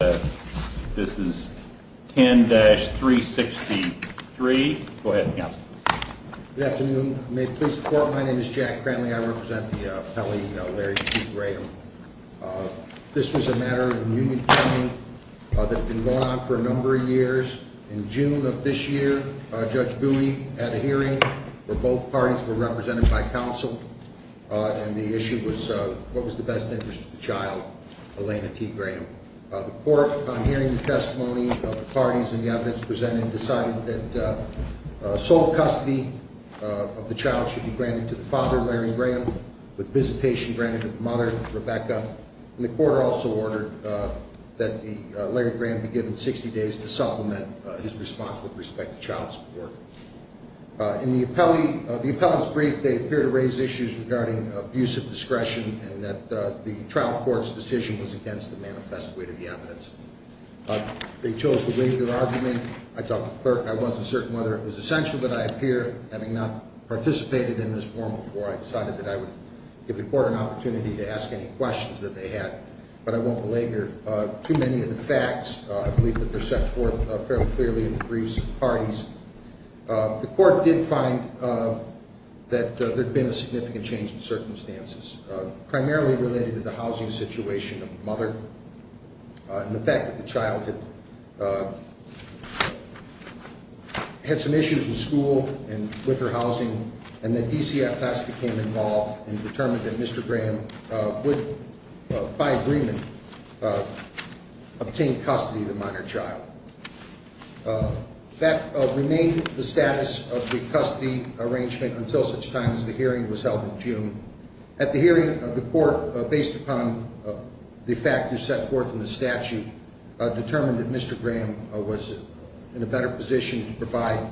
This is 10-363. Go ahead, Counsel. Good afternoon. May it please the Court, my name is Jack Cranley. I represent the Pelley Larry T. Graham. This was a matter in Union County that had been going on for a number of years. In June of this year, Judge Bowie had a hearing where both parties were represented by counsel. And the issue was what was the best interest of the child, Elena T. Graham. The Court, on hearing the testimony of the parties and the evidence presented, decided that sole custody of the child should be granted to the father, Larry Graham, with visitation granted to the mother, Rebecca. And the Court also ordered that Larry Graham be given 60 days to supplement his response with respect to child support. In the appellant's brief, they appear to raise issues regarding abusive discretion and that the trial court's decision was against the manifest way to the evidence. They chose to waive their argument. I wasn't certain whether it was essential that I appear. Having not participated in this forum before, I decided that I would give the Court an opportunity to ask any questions that they had. But I won't belabor too many of the facts. I believe that they're set forth fairly clearly in the briefs of the parties. The Court did find that there had been a significant change in circumstances, primarily related to the housing situation of the mother and the fact that the child had some issues in school and with her housing. And that DCFS became involved and determined that Mr. Graham would, by agreement, obtain custody of the minor child. That remained the status of the custody arrangement until such time as the hearing was held in June. At the hearing, the Court, based upon the facts set forth in the statute, determined that Mr. Graham was in a better position to provide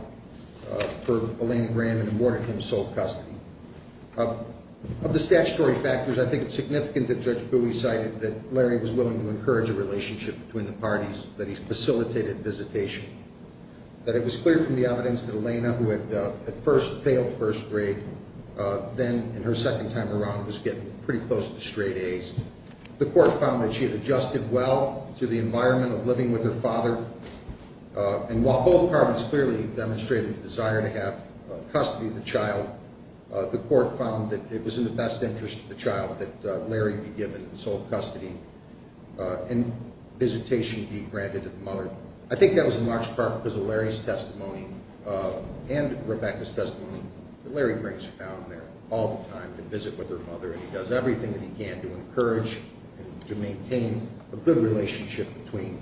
for Elaina Graham and awarded him sole custody. Of the statutory factors, I think it's significant that Judge Bowie cited that Larry was willing to encourage a relationship between the parties, that he facilitated visitation, that it was clear from the evidence that Elaina, who had at first failed first grade, then in her second time around was getting pretty close to straight A's. The Court found that she had adjusted well to the environment of living with her father and while both parties clearly demonstrated a desire to have custody of the child, the Court found that it was in the best interest of the child that Larry be given sole custody and visitation be granted to the mother. I think that was in large part because of Larry's testimony and Rebecca's testimony that Larry brings her down there all the time to visit with her mother and he does everything that he can to encourage and to maintain a good relationship between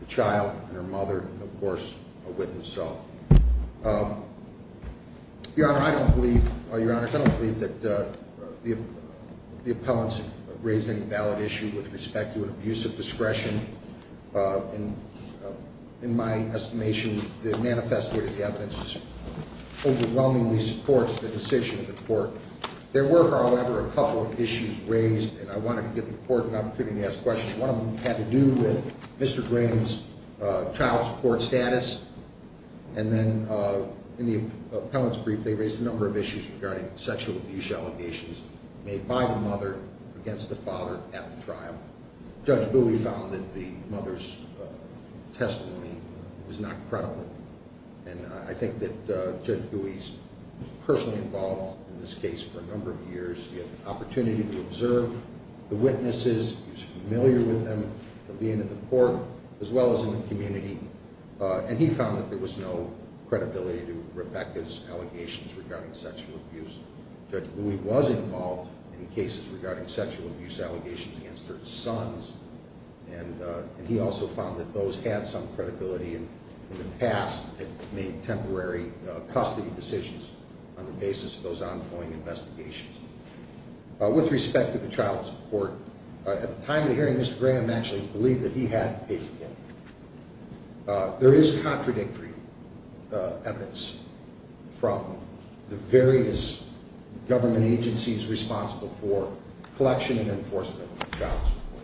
the child and her mother and, of course, with himself. Your Honor, I don't believe that the appellants have raised any valid issues with respect to an abuse of discretion. In my estimation, the manifesto of the evidence overwhelmingly supports the decision of the Court. There were, however, a couple of issues raised and I wanted to give the Court an opportunity to ask questions. One of them had to do with Mr. Graham's child support status and then in the appellant's brief they raised a number of issues regarding sexual abuse allegations made by the mother against the father at the trial. Judge Bowie found that the mother's testimony was not credible and I think that Judge Bowie's personally involved in this case for a number of years. He had the opportunity to observe the witnesses. He was familiar with them from being in the Court as well as in the community and he found that there was no credibility to Rebecca's allegations regarding sexual abuse. Judge Bowie was involved in cases regarding sexual abuse allegations against her sons and he also found that those had some credibility in the past and made temporary custody decisions on the basis of those ongoing investigations. With respect to the child support, at the time of the hearing Mr. Graham actually believed that he had paid for it. There is contradictory evidence from the various government agencies responsible for collection and enforcement of child support.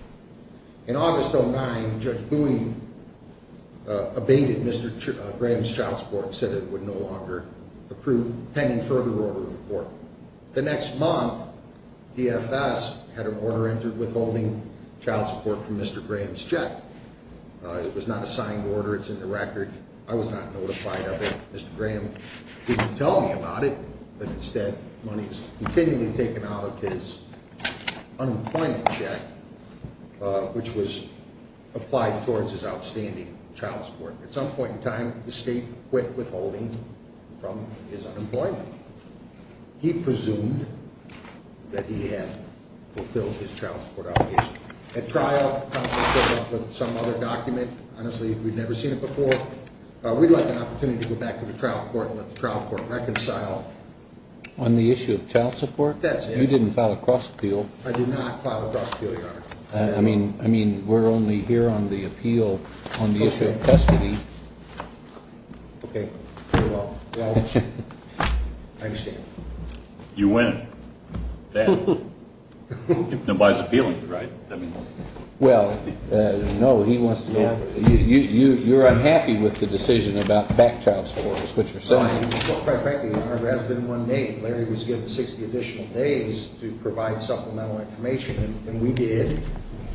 In August 2009, Judge Bowie abated Mr. Graham's child support and said it would no longer approve pending further order in the Court. The next month, DFS had an order entered withholding child support from Mr. Graham's check. It was not a signed order. It's in the record. I was not notified of it. Mr. Graham didn't tell me about it, but instead money was continually taken out of his unemployment check, which was applied towards his outstanding child support. At some point in time, the state quit withholding from his unemployment. He presumed that he had fulfilled his child support obligation. At trial, counsel showed up with some other document. Honestly, we've never seen it before. We'd like an opportunity to go back to the trial court and let the trial court reconcile. On the issue of child support? That's it. You didn't file a cross appeal. I did not file a cross appeal, Your Honor. I mean, we're only here on the appeal on the issue of custody. Okay. Very well. I understand. You win. Nobody's appealing to you, right? Well, no. You're unhappy with the decision about back child support, is what you're saying? Well, quite frankly, Your Honor, it has been one day. Larry was given 60 additional days to provide supplemental information, and we did,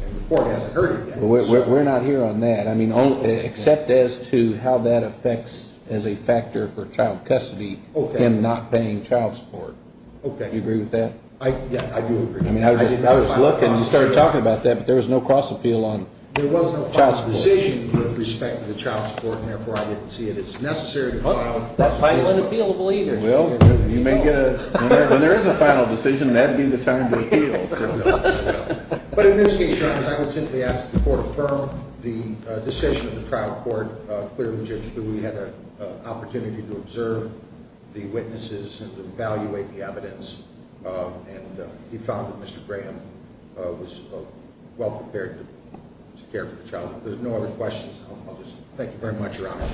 and the Court hasn't heard it yet. We're not here on that. I mean, except as to how that affects, as a factor for child custody, him not paying child support. Do you agree with that? I do agree. You started talking about that, but there was no cross appeal on child support. There was no final decision with respect to child support, and therefore I didn't see it. It's necessary to file a cross appeal. When there is a final decision, that would be the time to appeal. But in this case, Your Honor, I would simply ask the Court affirm the decision of the trial court clearly and legitimately. We had an opportunity to observe the witnesses and evaluate the evidence, and we found that Mr. Graham was well prepared to care for the child. If there's no other questions, I'll just thank you very much, Your Honor.